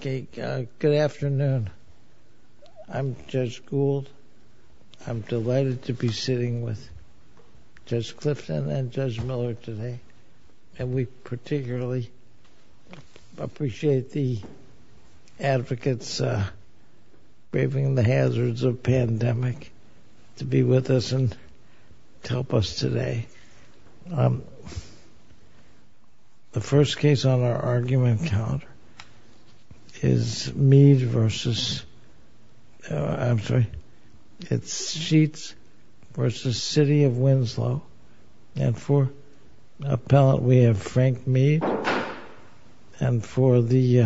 Good afternoon. I'm Judge Gould. I'm delighted to be sitting with Judge Clifton and Judge Miller today, and we particularly appreciate the advocates braving the hazards of pandemic to be with us and to help us today. The first case on our argument calendar is Sheets v. City of Winslow, and for the appellant we have Frank Meade, and for the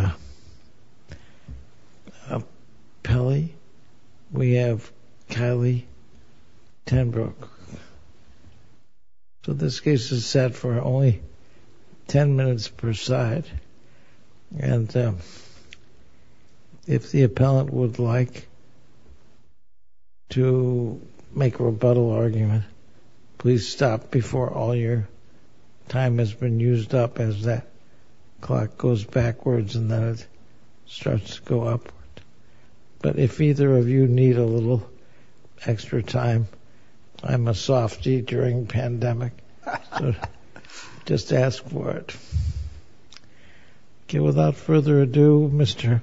appellee we have Kylie Tenbrook. So this case is set for only 10 minutes per side, and if the appellant would like to make a rebuttal argument, please stop before all your time has been used up as that clock goes backwards and then it starts to go up. But if either of you need a little extra time, I'm a softy during pandemic, so just ask for it. Okay, without further ado, Mr.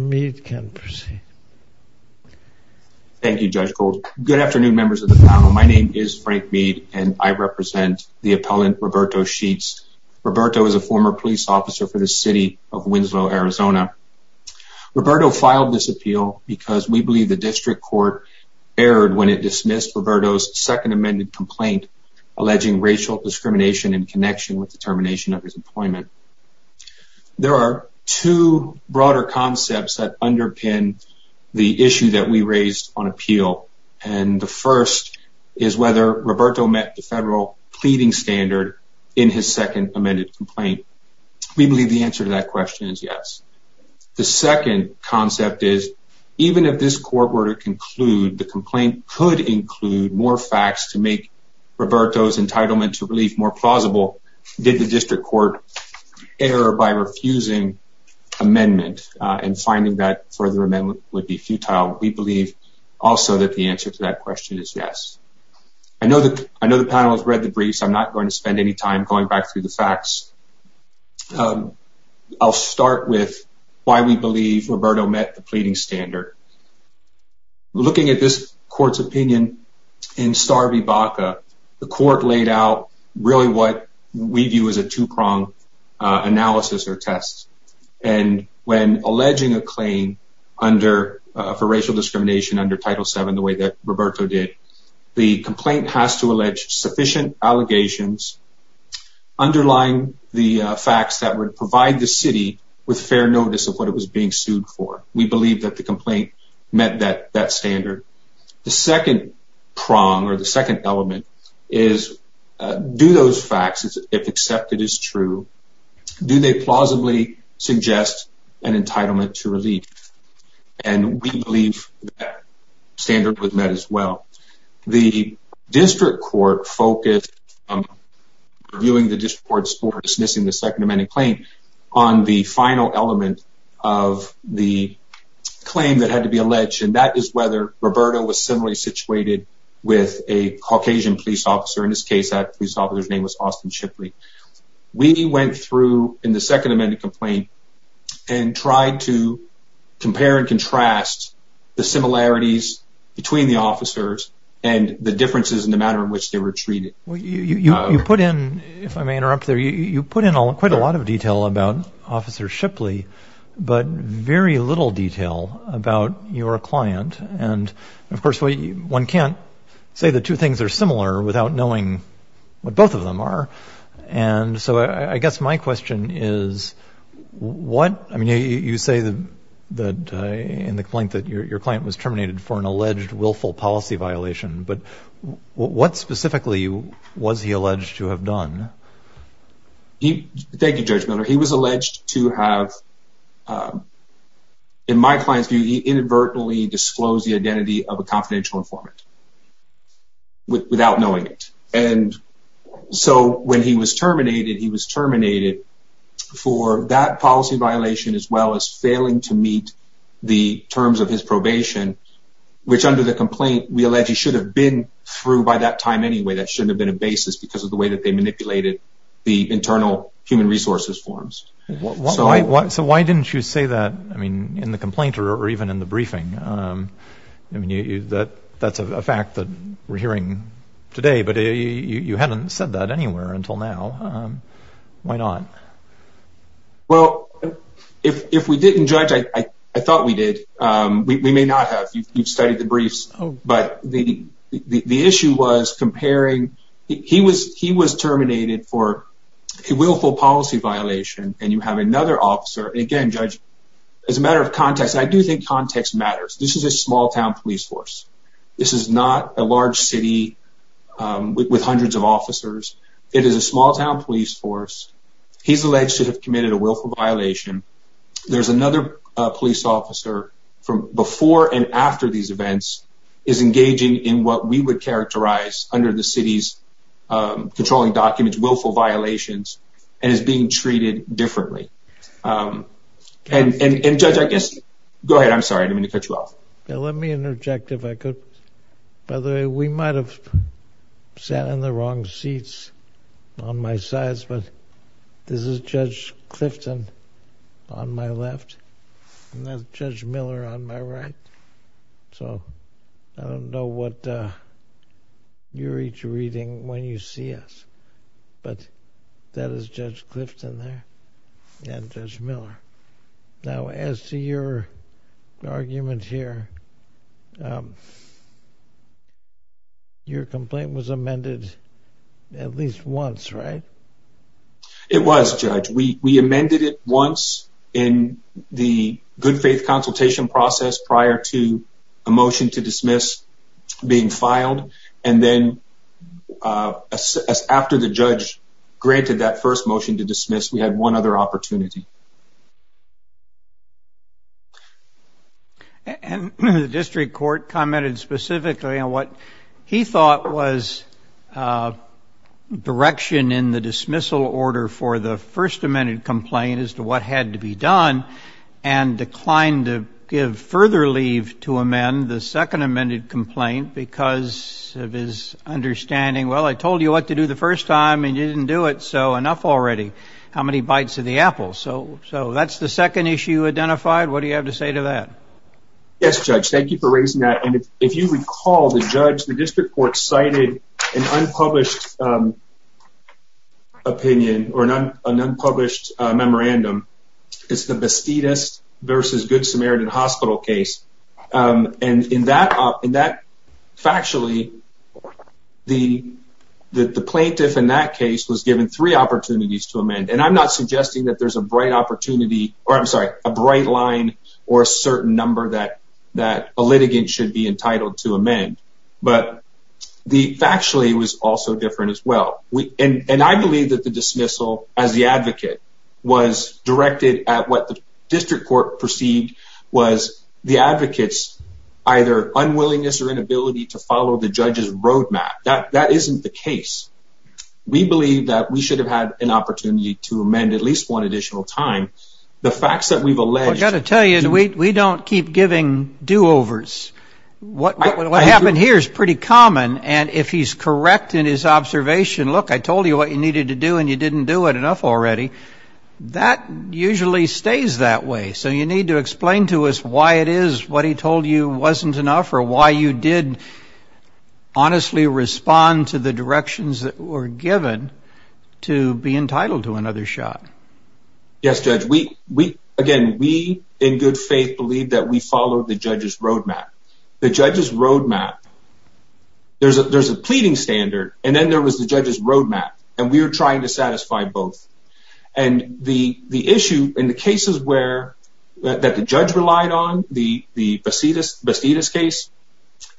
Meade can proceed. Thank you, Judge Gould. Good afternoon, members of the panel. My name is Frank Meade, and I represent the appellant Roberto Sheets. Roberto is a former police officer for the City of Winslow, Arizona. Roberto filed this appeal because we believe the district court erred when it dismissed Roberto's second amended complaint alleging racial discrimination in connection with the termination of his employment. There are two broader concepts that underpin the issue that we raised on appeal, and the first is whether Roberto met the federal pleading standard in his second amended complaint. We believe the answer to that question is yes. The second concept is even if this court were to conclude the complaint could include more facts to make Roberto's entitlement to relief more than the district court error by refusing amendment and finding that further amendment would be futile. We believe also that the answer to that question is yes. I know the panel has read the briefs. I'm not going to spend any time going back through the facts. I'll start with why we believe Roberto met the pleading standard. Looking at this court's opinion in Star v. Baca, the court laid out really what we view as a two-pronged analysis or test, and when alleging a claim for racial discrimination under Title VII the way that Roberto did, the complaint has to allege sufficient allegations underlying the facts that would provide the city with fair notice of what it was being sued for. We believe that the complaint met that standard. The second prong or the second element is do those facts, if accepted as true, do they plausibly suggest an entitlement to relief? We believe that standard was met as well. The district court focused on reviewing the district court's order dismissing the second amended claim on the final element of the claim that had to be alleged, and that is whether Roberto was similarly situated with a Caucasian police officer, in this case that police officer's name was Austin Shipley. We went through in the second amended complaint and tried to compare and contrast the similarities between the officers and the differences in the manner in which they were treated. You put in, if I may interrupt there, you put in quite a lot of detail about Officer Shipley, but very little detail about your client. And of course, one can't say the two things are similar without knowing what both of them are. And so I guess my question is, what, I mean, you say that in the complaint that your client was terminated for an alleged willful policy violation, but what specifically was he alleged to have done? He, thank you, Judge Miller, he was alleged to have, in my client's view, he inadvertently disclosed the identity of a confidential informant without knowing it. And so when he was terminated, he was terminated for that policy violation as well as failing to meet the terms of his probation, which under the complaint, we allege he should have been through by that time. Anyway, that shouldn't have been a basis because of the way that they manipulated the internal human resources forms. So why didn't you say that? I mean, in the complaint or even in the briefing? I mean, you that that's a fact that we're hearing today, but you haven't said that anywhere until now. Why not? Well, if we didn't, Judge, I thought we did. We may not have. You've studied the briefs. But the issue was comparing, he was terminated for a willful policy violation, and you have another officer. Again, Judge, as a matter of context, I do think context matters. This is a small town police force. This is not a large city with hundreds of officers. It is a small town police force. He's alleged to have committed a willful violation. There's another police officer from before and after these events is engaging in what we would characterize under the city's controlling documents, willful violations, and is being treated differently. And Judge, I guess, go ahead. I'm sorry. I didn't mean to cut you off. Let me interject, if I could. By the way, we might have sat in the wrong seats on my sides, but this is Judge Clifton on my left, and that's Judge Miller on my right. So I don't know what you're each reading when you see us. But that is Judge Clifton there, and Judge Miller. Now, as to your argument here, your complaint was amended at least once, right? It was, Judge. We amended it once in the good faith consultation process prior to a motion to dismiss being filed. And then after the judge granted that first motion to dismiss, we had one other opportunity. And the district court commented specifically on what he thought was direction in the dismissal order for the first amended complaint as to what had to be done and declined to give further leave to amend the second amended complaint because of his understanding. Well, I told you what to do the first time and you didn't do it. So enough already. How many bites of the apple? So that's the second issue identified. What do you have to say to that? Yes, Judge. Thank you for raising that. And if you recall, the judge, the district court cited an unpublished opinion or an opinion that the plaintiff in that case was given three opportunities to amend. And I'm not suggesting that there's a bright opportunity or I'm sorry, a bright line or a certain number that a litigant should be entitled to amend. But factually, it was also different as well. And I believe that the dismissal as the advocate was directed at what the district court perceived was the advocate's either unwillingness or inability to follow the judge's roadmap. That that isn't the case. We believe that we should have had an opportunity to amend at least one additional time. The facts that we've got to tell you, we don't keep giving do overs. What happened here is pretty common. And if he's correct in his observation, look, I told you what you needed to do and you didn't do it enough already. That usually stays that way. So you need to did honestly respond to the directions that were given to be entitled to another shot. Yes, Judge, we again, we in good faith believe that we follow the judge's roadmap, the judge's roadmap. There's a there's a pleading standard. And then there was the judge's roadmap. And we're trying to satisfy both. And the the issue in the cases where that the judge relied on the the Bacidas Bacidas case,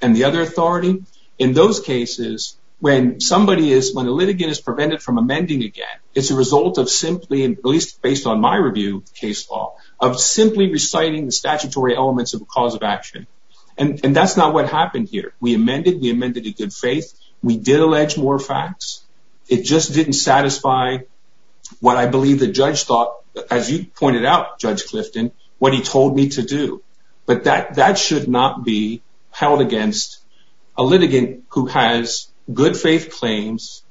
and the other authority in those cases, when somebody is when a litigant is prevented from amending again, it's a result of simply, at least based on my review, case law of simply reciting the statutory elements of a cause of action. And that's not what happened here. We amended we amended in good faith, we did allege more facts. It just didn't satisfy what I believe the judge thought, as you told me to do. But that that should not be held against a litigant who has good faith claims,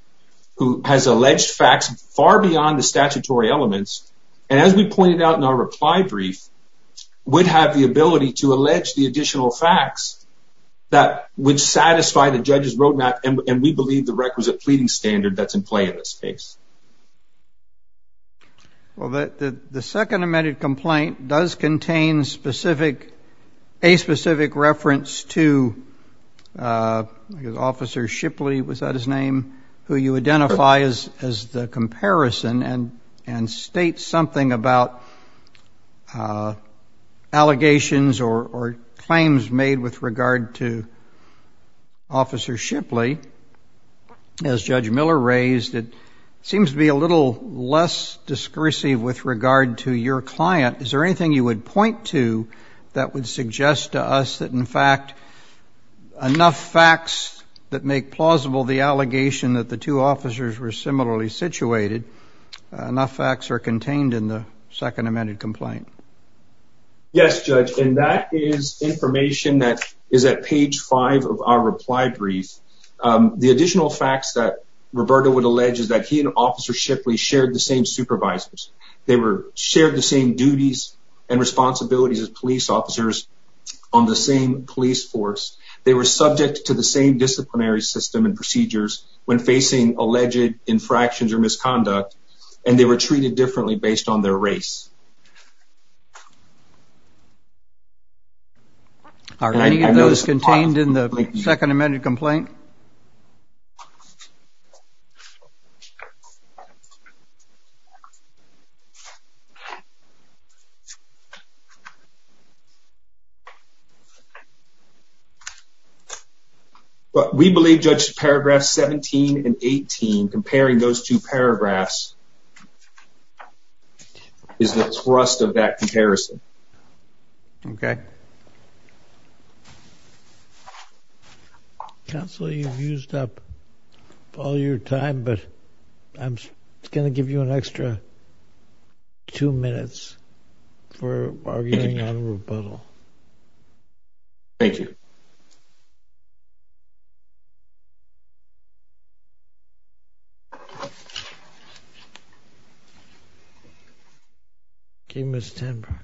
who has alleged facts far beyond the statutory elements. And as we pointed out in our reply brief, would have the ability to allege the additional facts that would satisfy the judge's roadmap. And we believe the requisite pleading standard that's in play in this case. Well, that the second amended complaint does contain specific, a specific reference to his officer Shipley, was that his name, who you identify as as the comparison and, and state something about allegations or claims made with regard to Officer Shipley. As Judge Miller raised, it seems to be a little less discursive with regard to your client. Is there anything you would point to that would suggest to us that in fact, enough facts that make plausible the allegation that the two officers were similarly situated, enough facts are contained in the second amended complaint? Yes, Judge, and that is information that is at page five of our reply brief. The additional facts that Roberto would allege is that he and Officer Shipley shared the same supervisors. They were shared the same duties and responsibilities as police officers on the same police force. They were subject to the same disciplinary system and procedures when facing alleged infractions or misconduct. And they were treated differently based on their race. Are any of those contained in the second amended complaint? We believe, Judge, paragraph 17 and 18, comparing those two paragraphs, is the trust of that comparison. Okay. Counsel, you've used up all your time, but I'm going to give you an extra two minutes for arguing on a rebuttal. Thank you. Okay, Ms. Tenbrock.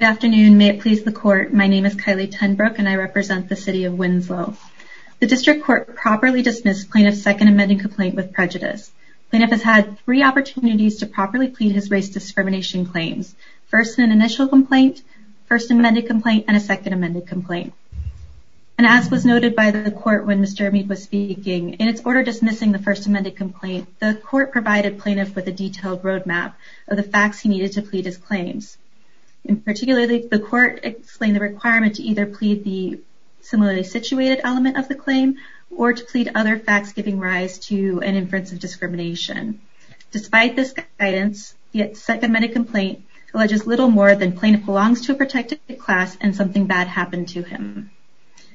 Good afternoon. May it please the court, my name is Kylie Tenbrock and I represent the city of Winslow. The district court properly dismissed plaintiff's second amended complaint with prejudice. Plaintiff has had three opportunities to properly plead his race discrimination claims. First, an initial complaint, first amended complaint, and a second amended complaint. And as was noted by the court when Mr. Amid was speaking, in its order dismissing the first amended complaint, the court provided plaintiff with a detailed roadmap of the facts he needed to plead his claims. In particular, the court explained the requirement to either plead the similarly situated element of the claim or to plead other facts giving rise to an inference of discrimination. Despite this guidance, the second amended complaint alleges little more than plaintiff belongs to a protected class and something bad happened to him.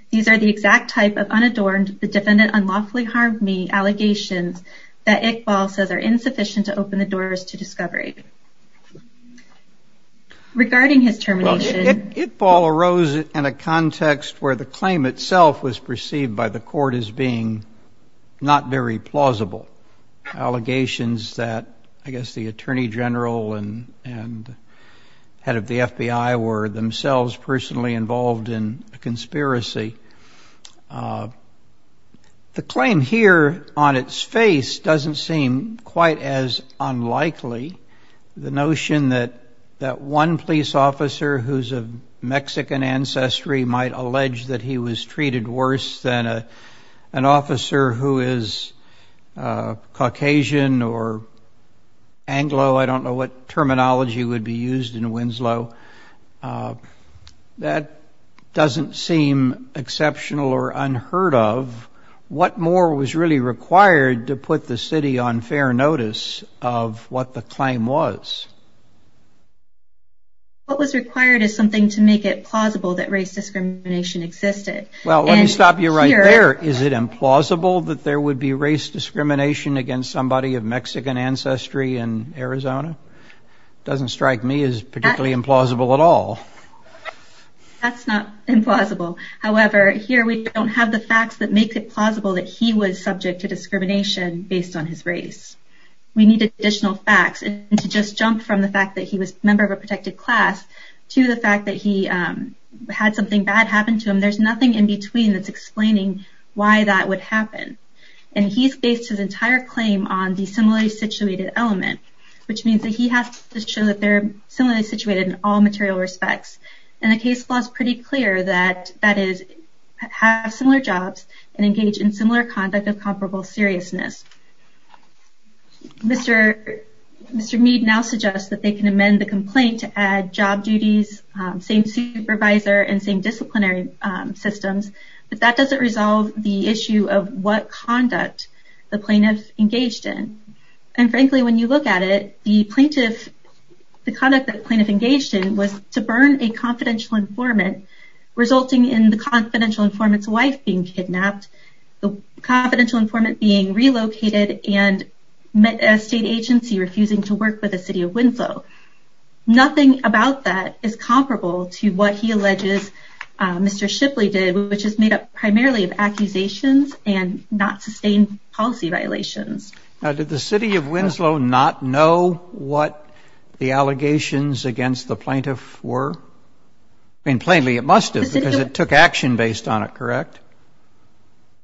These are the exact type of unadorned, the defendant unlawfully harmed me, allegations that Iqbal says are Iqbal arose in a context where the claim itself was perceived by the court as being not very plausible. Allegations that I guess the attorney general and head of the FBI were themselves personally involved in a conspiracy. The claim here on its face doesn't seem quite as unlikely. The claim here on its face doesn't seem quite as likely. What more was really required to put the city on fair notice of what the claim was? What was required is something to make it plausible that race discrimination existed. Well, let me stop you right there. Is it implausible that there would be race discrimination against somebody of Mexican ancestry in Arizona? Doesn't strike me as particularly implausible at all. That's not implausible. However, here we don't have the facts that make it plausible that he was subject to discrimination based on his race. We need additional facts. And to just jump from the fact that he was a member of a protected class to the fact that he had something bad happen to him, there's nothing in between that's explaining why that would happen. And he's based his entire claim on the similarly situated element, which means that he has to show that they're similarly situated in all material respects. And the case law is pretty clear that that is, have similar jobs and engage in similar conduct of comparable seriousness. Mr. Meade now suggests that they can amend the complaint to add job duties, same supervisor, and same disciplinary systems, but that doesn't resolve the issue of what conduct the plaintiff engaged in. And frankly, when you look at it, the conduct that the plaintiff engaged in was the same as confidential informant being relocated and met a state agency refusing to work with the city of Winslow. Nothing about that is comparable to what he alleges Mr. Shipley did, which is made up primarily of accusations and not sustained policy violations. Now, did the city of Winslow not know what the allegations against the plaintiff were? I mean, plainly, it must have because it took action based on it, correct?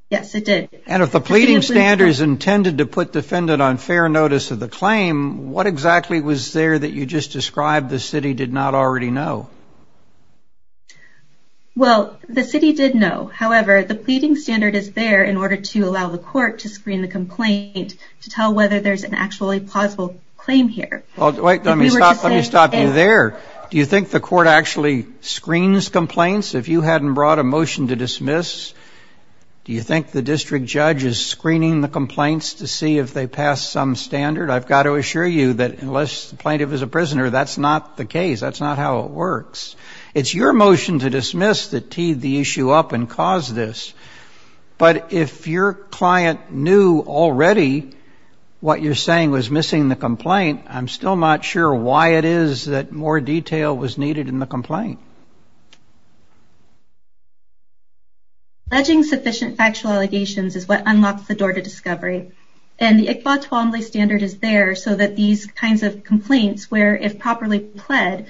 Yes, it did. And if the pleading standards intended to put defendant on fair notice of the claim, what exactly was there that you just described the city did not already know? Well, the city did know. However, the pleading standard is there in order to allow the court to screen the complaint to tell whether there is an actually plausible claim here. Wait, let me stop you there. Do you think the court actually screens complaints? If you hadn't brought a motion to dismiss, do you think screening the complaints to see if they pass some standard? I've got to assure you that unless the plaintiff is a prisoner, that's not the case. That's not how it works. It's your motion to dismiss that teed the issue up and caused this. But if your client knew already what you're saying was missing the complaint, I'm still not sure why it is that more than one of the allegations is what unlocks the door to discovery. And the Iqbal Twombly standard is there so that these kinds of complaints, where if properly pled,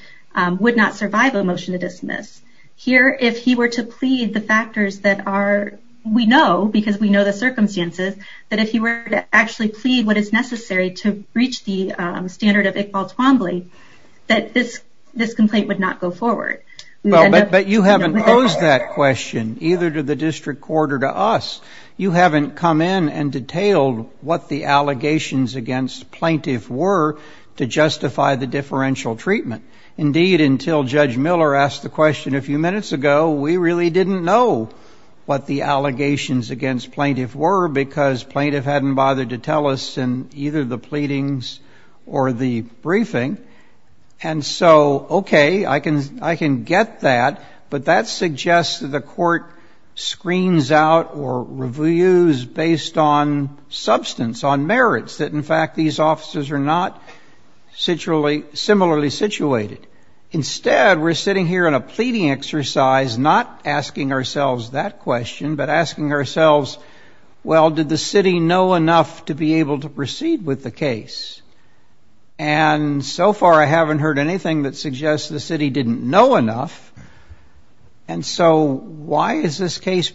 would not survive a motion to dismiss. Here, if he were to plead the factors that we know, because we know the circumstances, that if he were to actually plead what is necessary to reach the standard of Iqbal Twombly, that this complaint would not go forward. But you haven't posed that question either to the district court or to us. You haven't come in and detailed what the allegations against plaintiff were to justify the differential treatment. Indeed, until Judge Miller asked the question a few minutes ago, we really didn't know what the allegations against plaintiff were, because plaintiff hadn't bothered to tell us in either the pleadings or the briefing. And so, okay, I can get that. But that suggests that the court screens out or reviews based on substance, on merits, that in fact these officers are not similarly situated. Instead, we're sitting here in a pleading exercise not asking ourselves that question, but asking ourselves, well, did the city know enough to be able to proceed with the case? And so far, I haven't heard anything that suggests the city didn't know enough. And so why is this Well,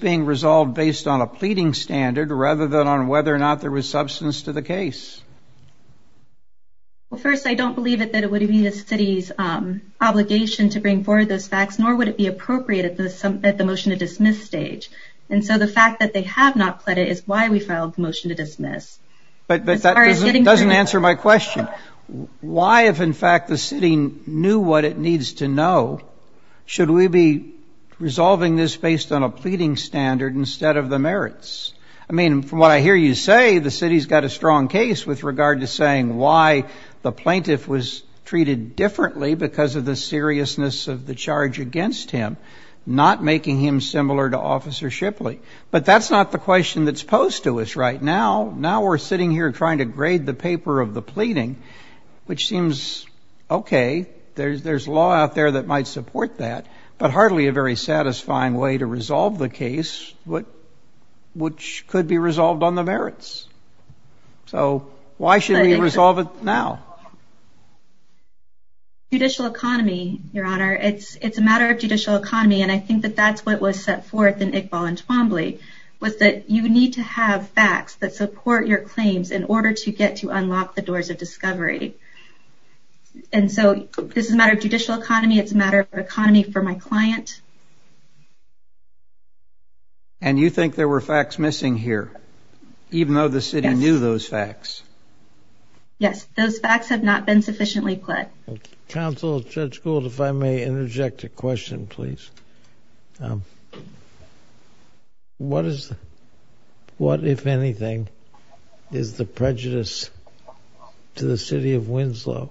first, I don't believe that it would be the city's obligation to bring forward those facts, nor would it be appropriate at the motion to dismiss stage. And so the fact that they have not pled it is why we filed the motion to dismiss. But that doesn't answer my question. Why, if in fact the city knew what it needs to know, should we be saying why the plaintiff was treated differently because of the seriousness of the charge against him, not making him similar to Officer Shipley? But that's not the question that's posed to us right now. Now we're sitting here trying to grade the paper of the pleading, which seems okay. There's law out there that might support that, but hardly a very satisfying way to resolve the case, which could be resolved on the merits. So why should we resolve it now? Judicial economy, Your Honor. It's a matter of judicial economy, and I think that that's what was set forth in Iqbal and Twombly, was that you need to have facts that support your claims in order to get to unlock the doors of discovery. And so this is a matter of judicial economy, it's a matter of economy for my client. And you think there were facts missing here, even though the city knew those facts? Yes, those facts have not been sufficiently pled. Counsel, Judge Gould, if I may interject a question please. What, if anything, is the prejudice to the city of Winslow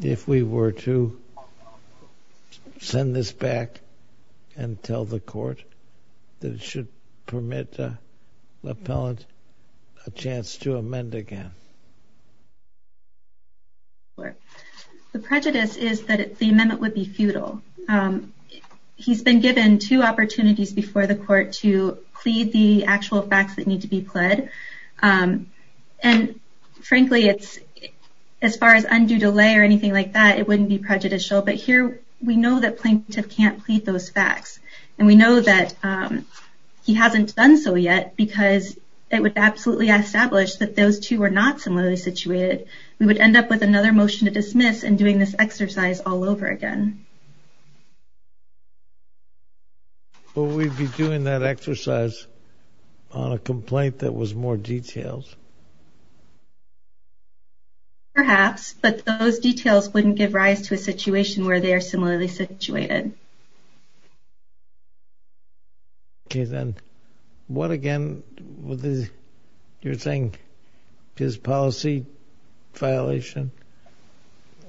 if we were to send this back and tell the court that it should permit an appellant a chance to amend again? The prejudice is that the amendment would be futile. He's been given two opportunities before the court to plead the actual facts that need to be pled. And frankly, as far as undue delay or anything like that, it wouldn't be prejudicial, but here we know that plaintiff can't plead those facts. And we know that he hasn't done so yet because it would absolutely be unjustified. And so if we establish that those two are not similarly situated, we would end up with another motion to dismiss and doing this exercise all over again. Will we be doing that exercise on a complaint that was more detailed? Perhaps, but those details wouldn't give rise to a situation where they are similarly situated. Okay then, what again, you're saying his policy violation,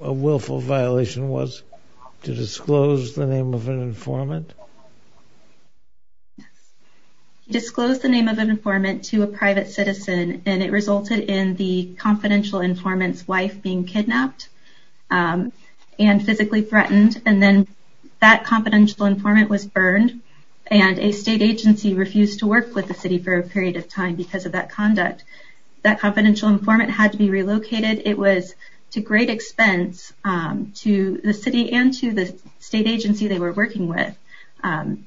a willful violation was to disclose the name of an informant? He disclosed the name of an informant to a private citizen, and it resulted in the confidential informant's wife being kidnapped and physically threatened. And then that confidential informant was burned, and a state agency refused to work with the city for a period of time because of that conduct. That confidential informant had to be relocated. It was to great expense to the city and to the state agency they were working with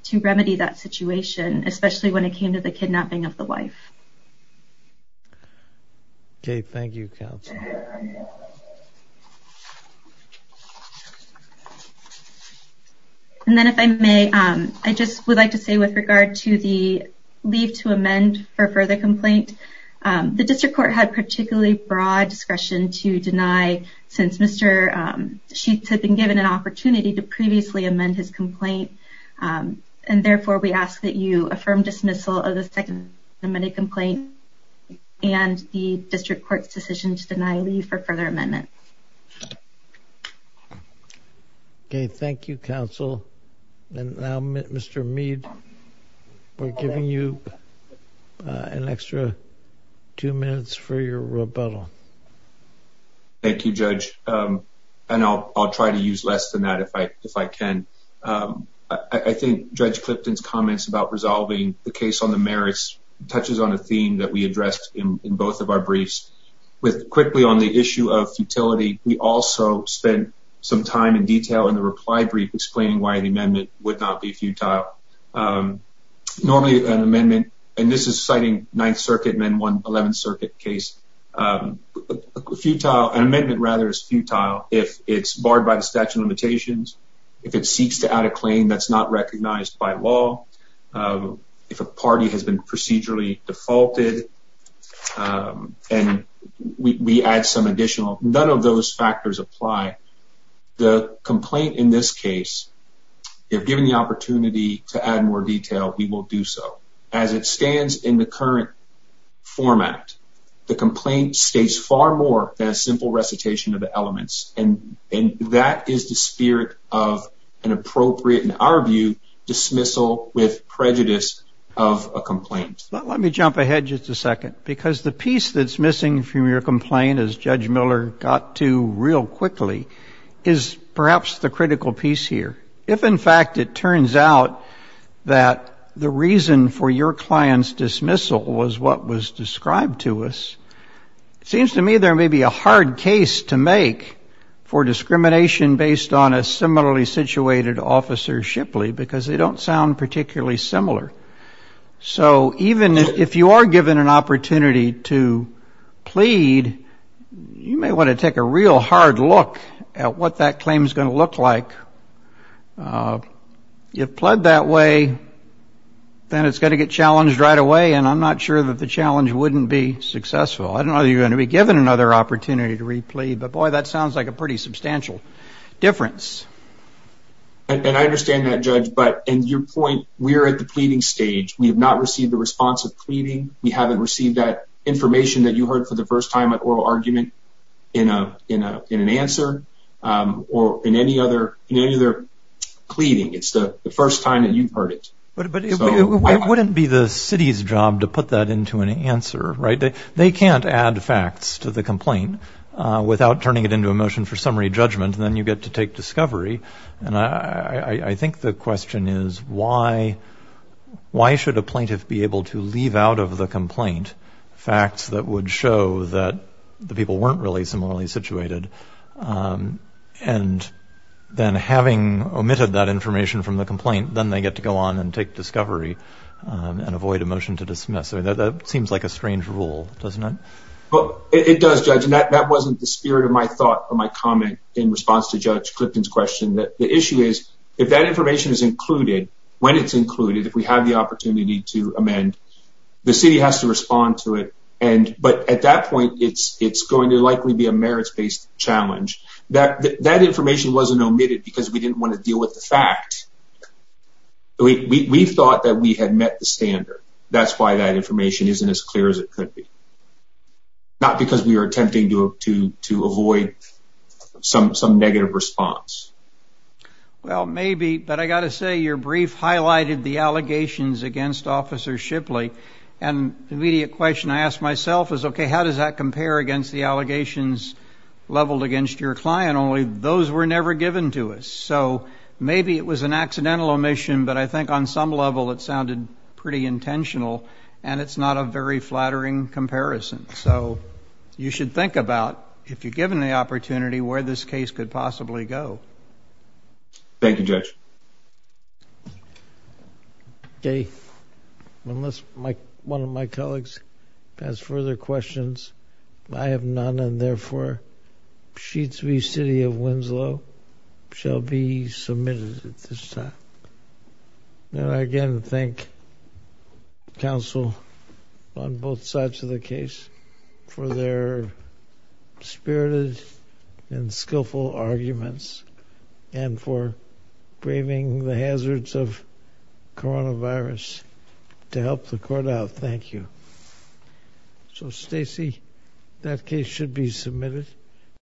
to remedy that situation, especially when it came to the kidnapping of the wife. Okay, thank you, counsel. And then if I may, I just would like to say with regard to the leave to amend for further complaint, the district court had particularly broad discretion to deny since Mr. Meade had an opportunity to previously amend his complaint, and therefore we ask that you affirm dismissal of the second amendment complaint and the district court's decision to deny leave for further amendments. Okay, thank you, counsel. And now Mr. Meade, we're giving you an extra two minutes for your rebuttal. Thank you, Judge, and I'll try to use less than that if I can. I think Judge Clipton's comments about resolving the case on the merits touches on a theme that we addressed in both of our briefs. With quickly on the issue of futility, we also spent some time in detail in the reply brief explaining why the amendment would not be futile. Normally an amendment, and this is citing 9th Circuit and then 11th Circuit case, an amendment rather is futile if it's barred by the statute of limitations, if it seeks to add a claim that's not recognized by law, if a party has been procedurally defaulted, and we add some additional. None of those factors apply. The complaint in this case, if given the opportunity to add more detail, we will do so. As it stands in the current format, the complaint states far more than a simple recitation of the elements, and that is the spirit of an appropriate, in our view, dismissal with prejudice of a complaint. But let me jump ahead just a second, because the piece that's missing from your complaint, as Judge Miller got to real quickly, is perhaps the critical piece here. If, in fact, it turns out that the reason for your client's dismissal was what was described to us, it seems to me there may be a hard case to make for discrimination based on a similarly situated officer, Shipley, because they don't sound particularly similar. So even if you are given an opportunity to plead, you may want to take a real hard look at what that claim is going to look like. If pled that way, then it's going to get challenged right away, and I'm not sure that the challenge wouldn't be successful. I don't know if you're going to be given another opportunity to re-plead, but boy, that sounds like a pretty substantial difference. And I understand that, Judge, but in your point, we're at the pleading stage. We have not received a response of pleading. We haven't received that information that you heard for the first time at oral argument in an answer or in any other pleading. It's the first time that you've heard it. But it wouldn't be the city's job to put that into an answer, right? They can't add facts to the complaint without turning it into a motion for summary judgment, and then you get to take discovery. And I think the question is, why should a plaintiff be able to leave out of the complaint facts that would show that the people weren't really similarly situated? And then having omitted that information from the complaint, then they get to go on and take discovery and avoid a motion to dismiss. That seems like a strange rule, doesn't it? It does, Judge, and that wasn't the spirit of my thought or my comment in response to Judge Clifton's question. The issue is, if that information is included, when it's included, if we have the opportunity to amend, the city has to respond to it. But at that point, it's going to likely be a merits-based challenge. That information wasn't omitted because we didn't want to deal with the fact. We thought that we had met the standard. That's why that information isn't as clear as it could be, not because we were attempting to avoid some negative response. Well, maybe, but I got to say, your brief highlighted the allegations against Officer Shipley. And the immediate question I ask myself is, okay, how does that compare against the allegations leveled against your client? Only those were never given to us. So maybe it was an accidental omission, but I think on some level it sounded pretty intentional, and it's not a very flattering comparison. So you should think about, if you're given the opportunity, where this case could possibly go. Thank you, Judge. Okay. Unless one of my colleagues has further questions, I have none. And therefore, Sheets v. City of Winslow shall be submitted at this time. And I again thank counsel on both sides of the case for their spirited and skillful arguments and for braving the hazards of coronavirus to help the court out. Thank you. So, Stacey, that case should be submitted.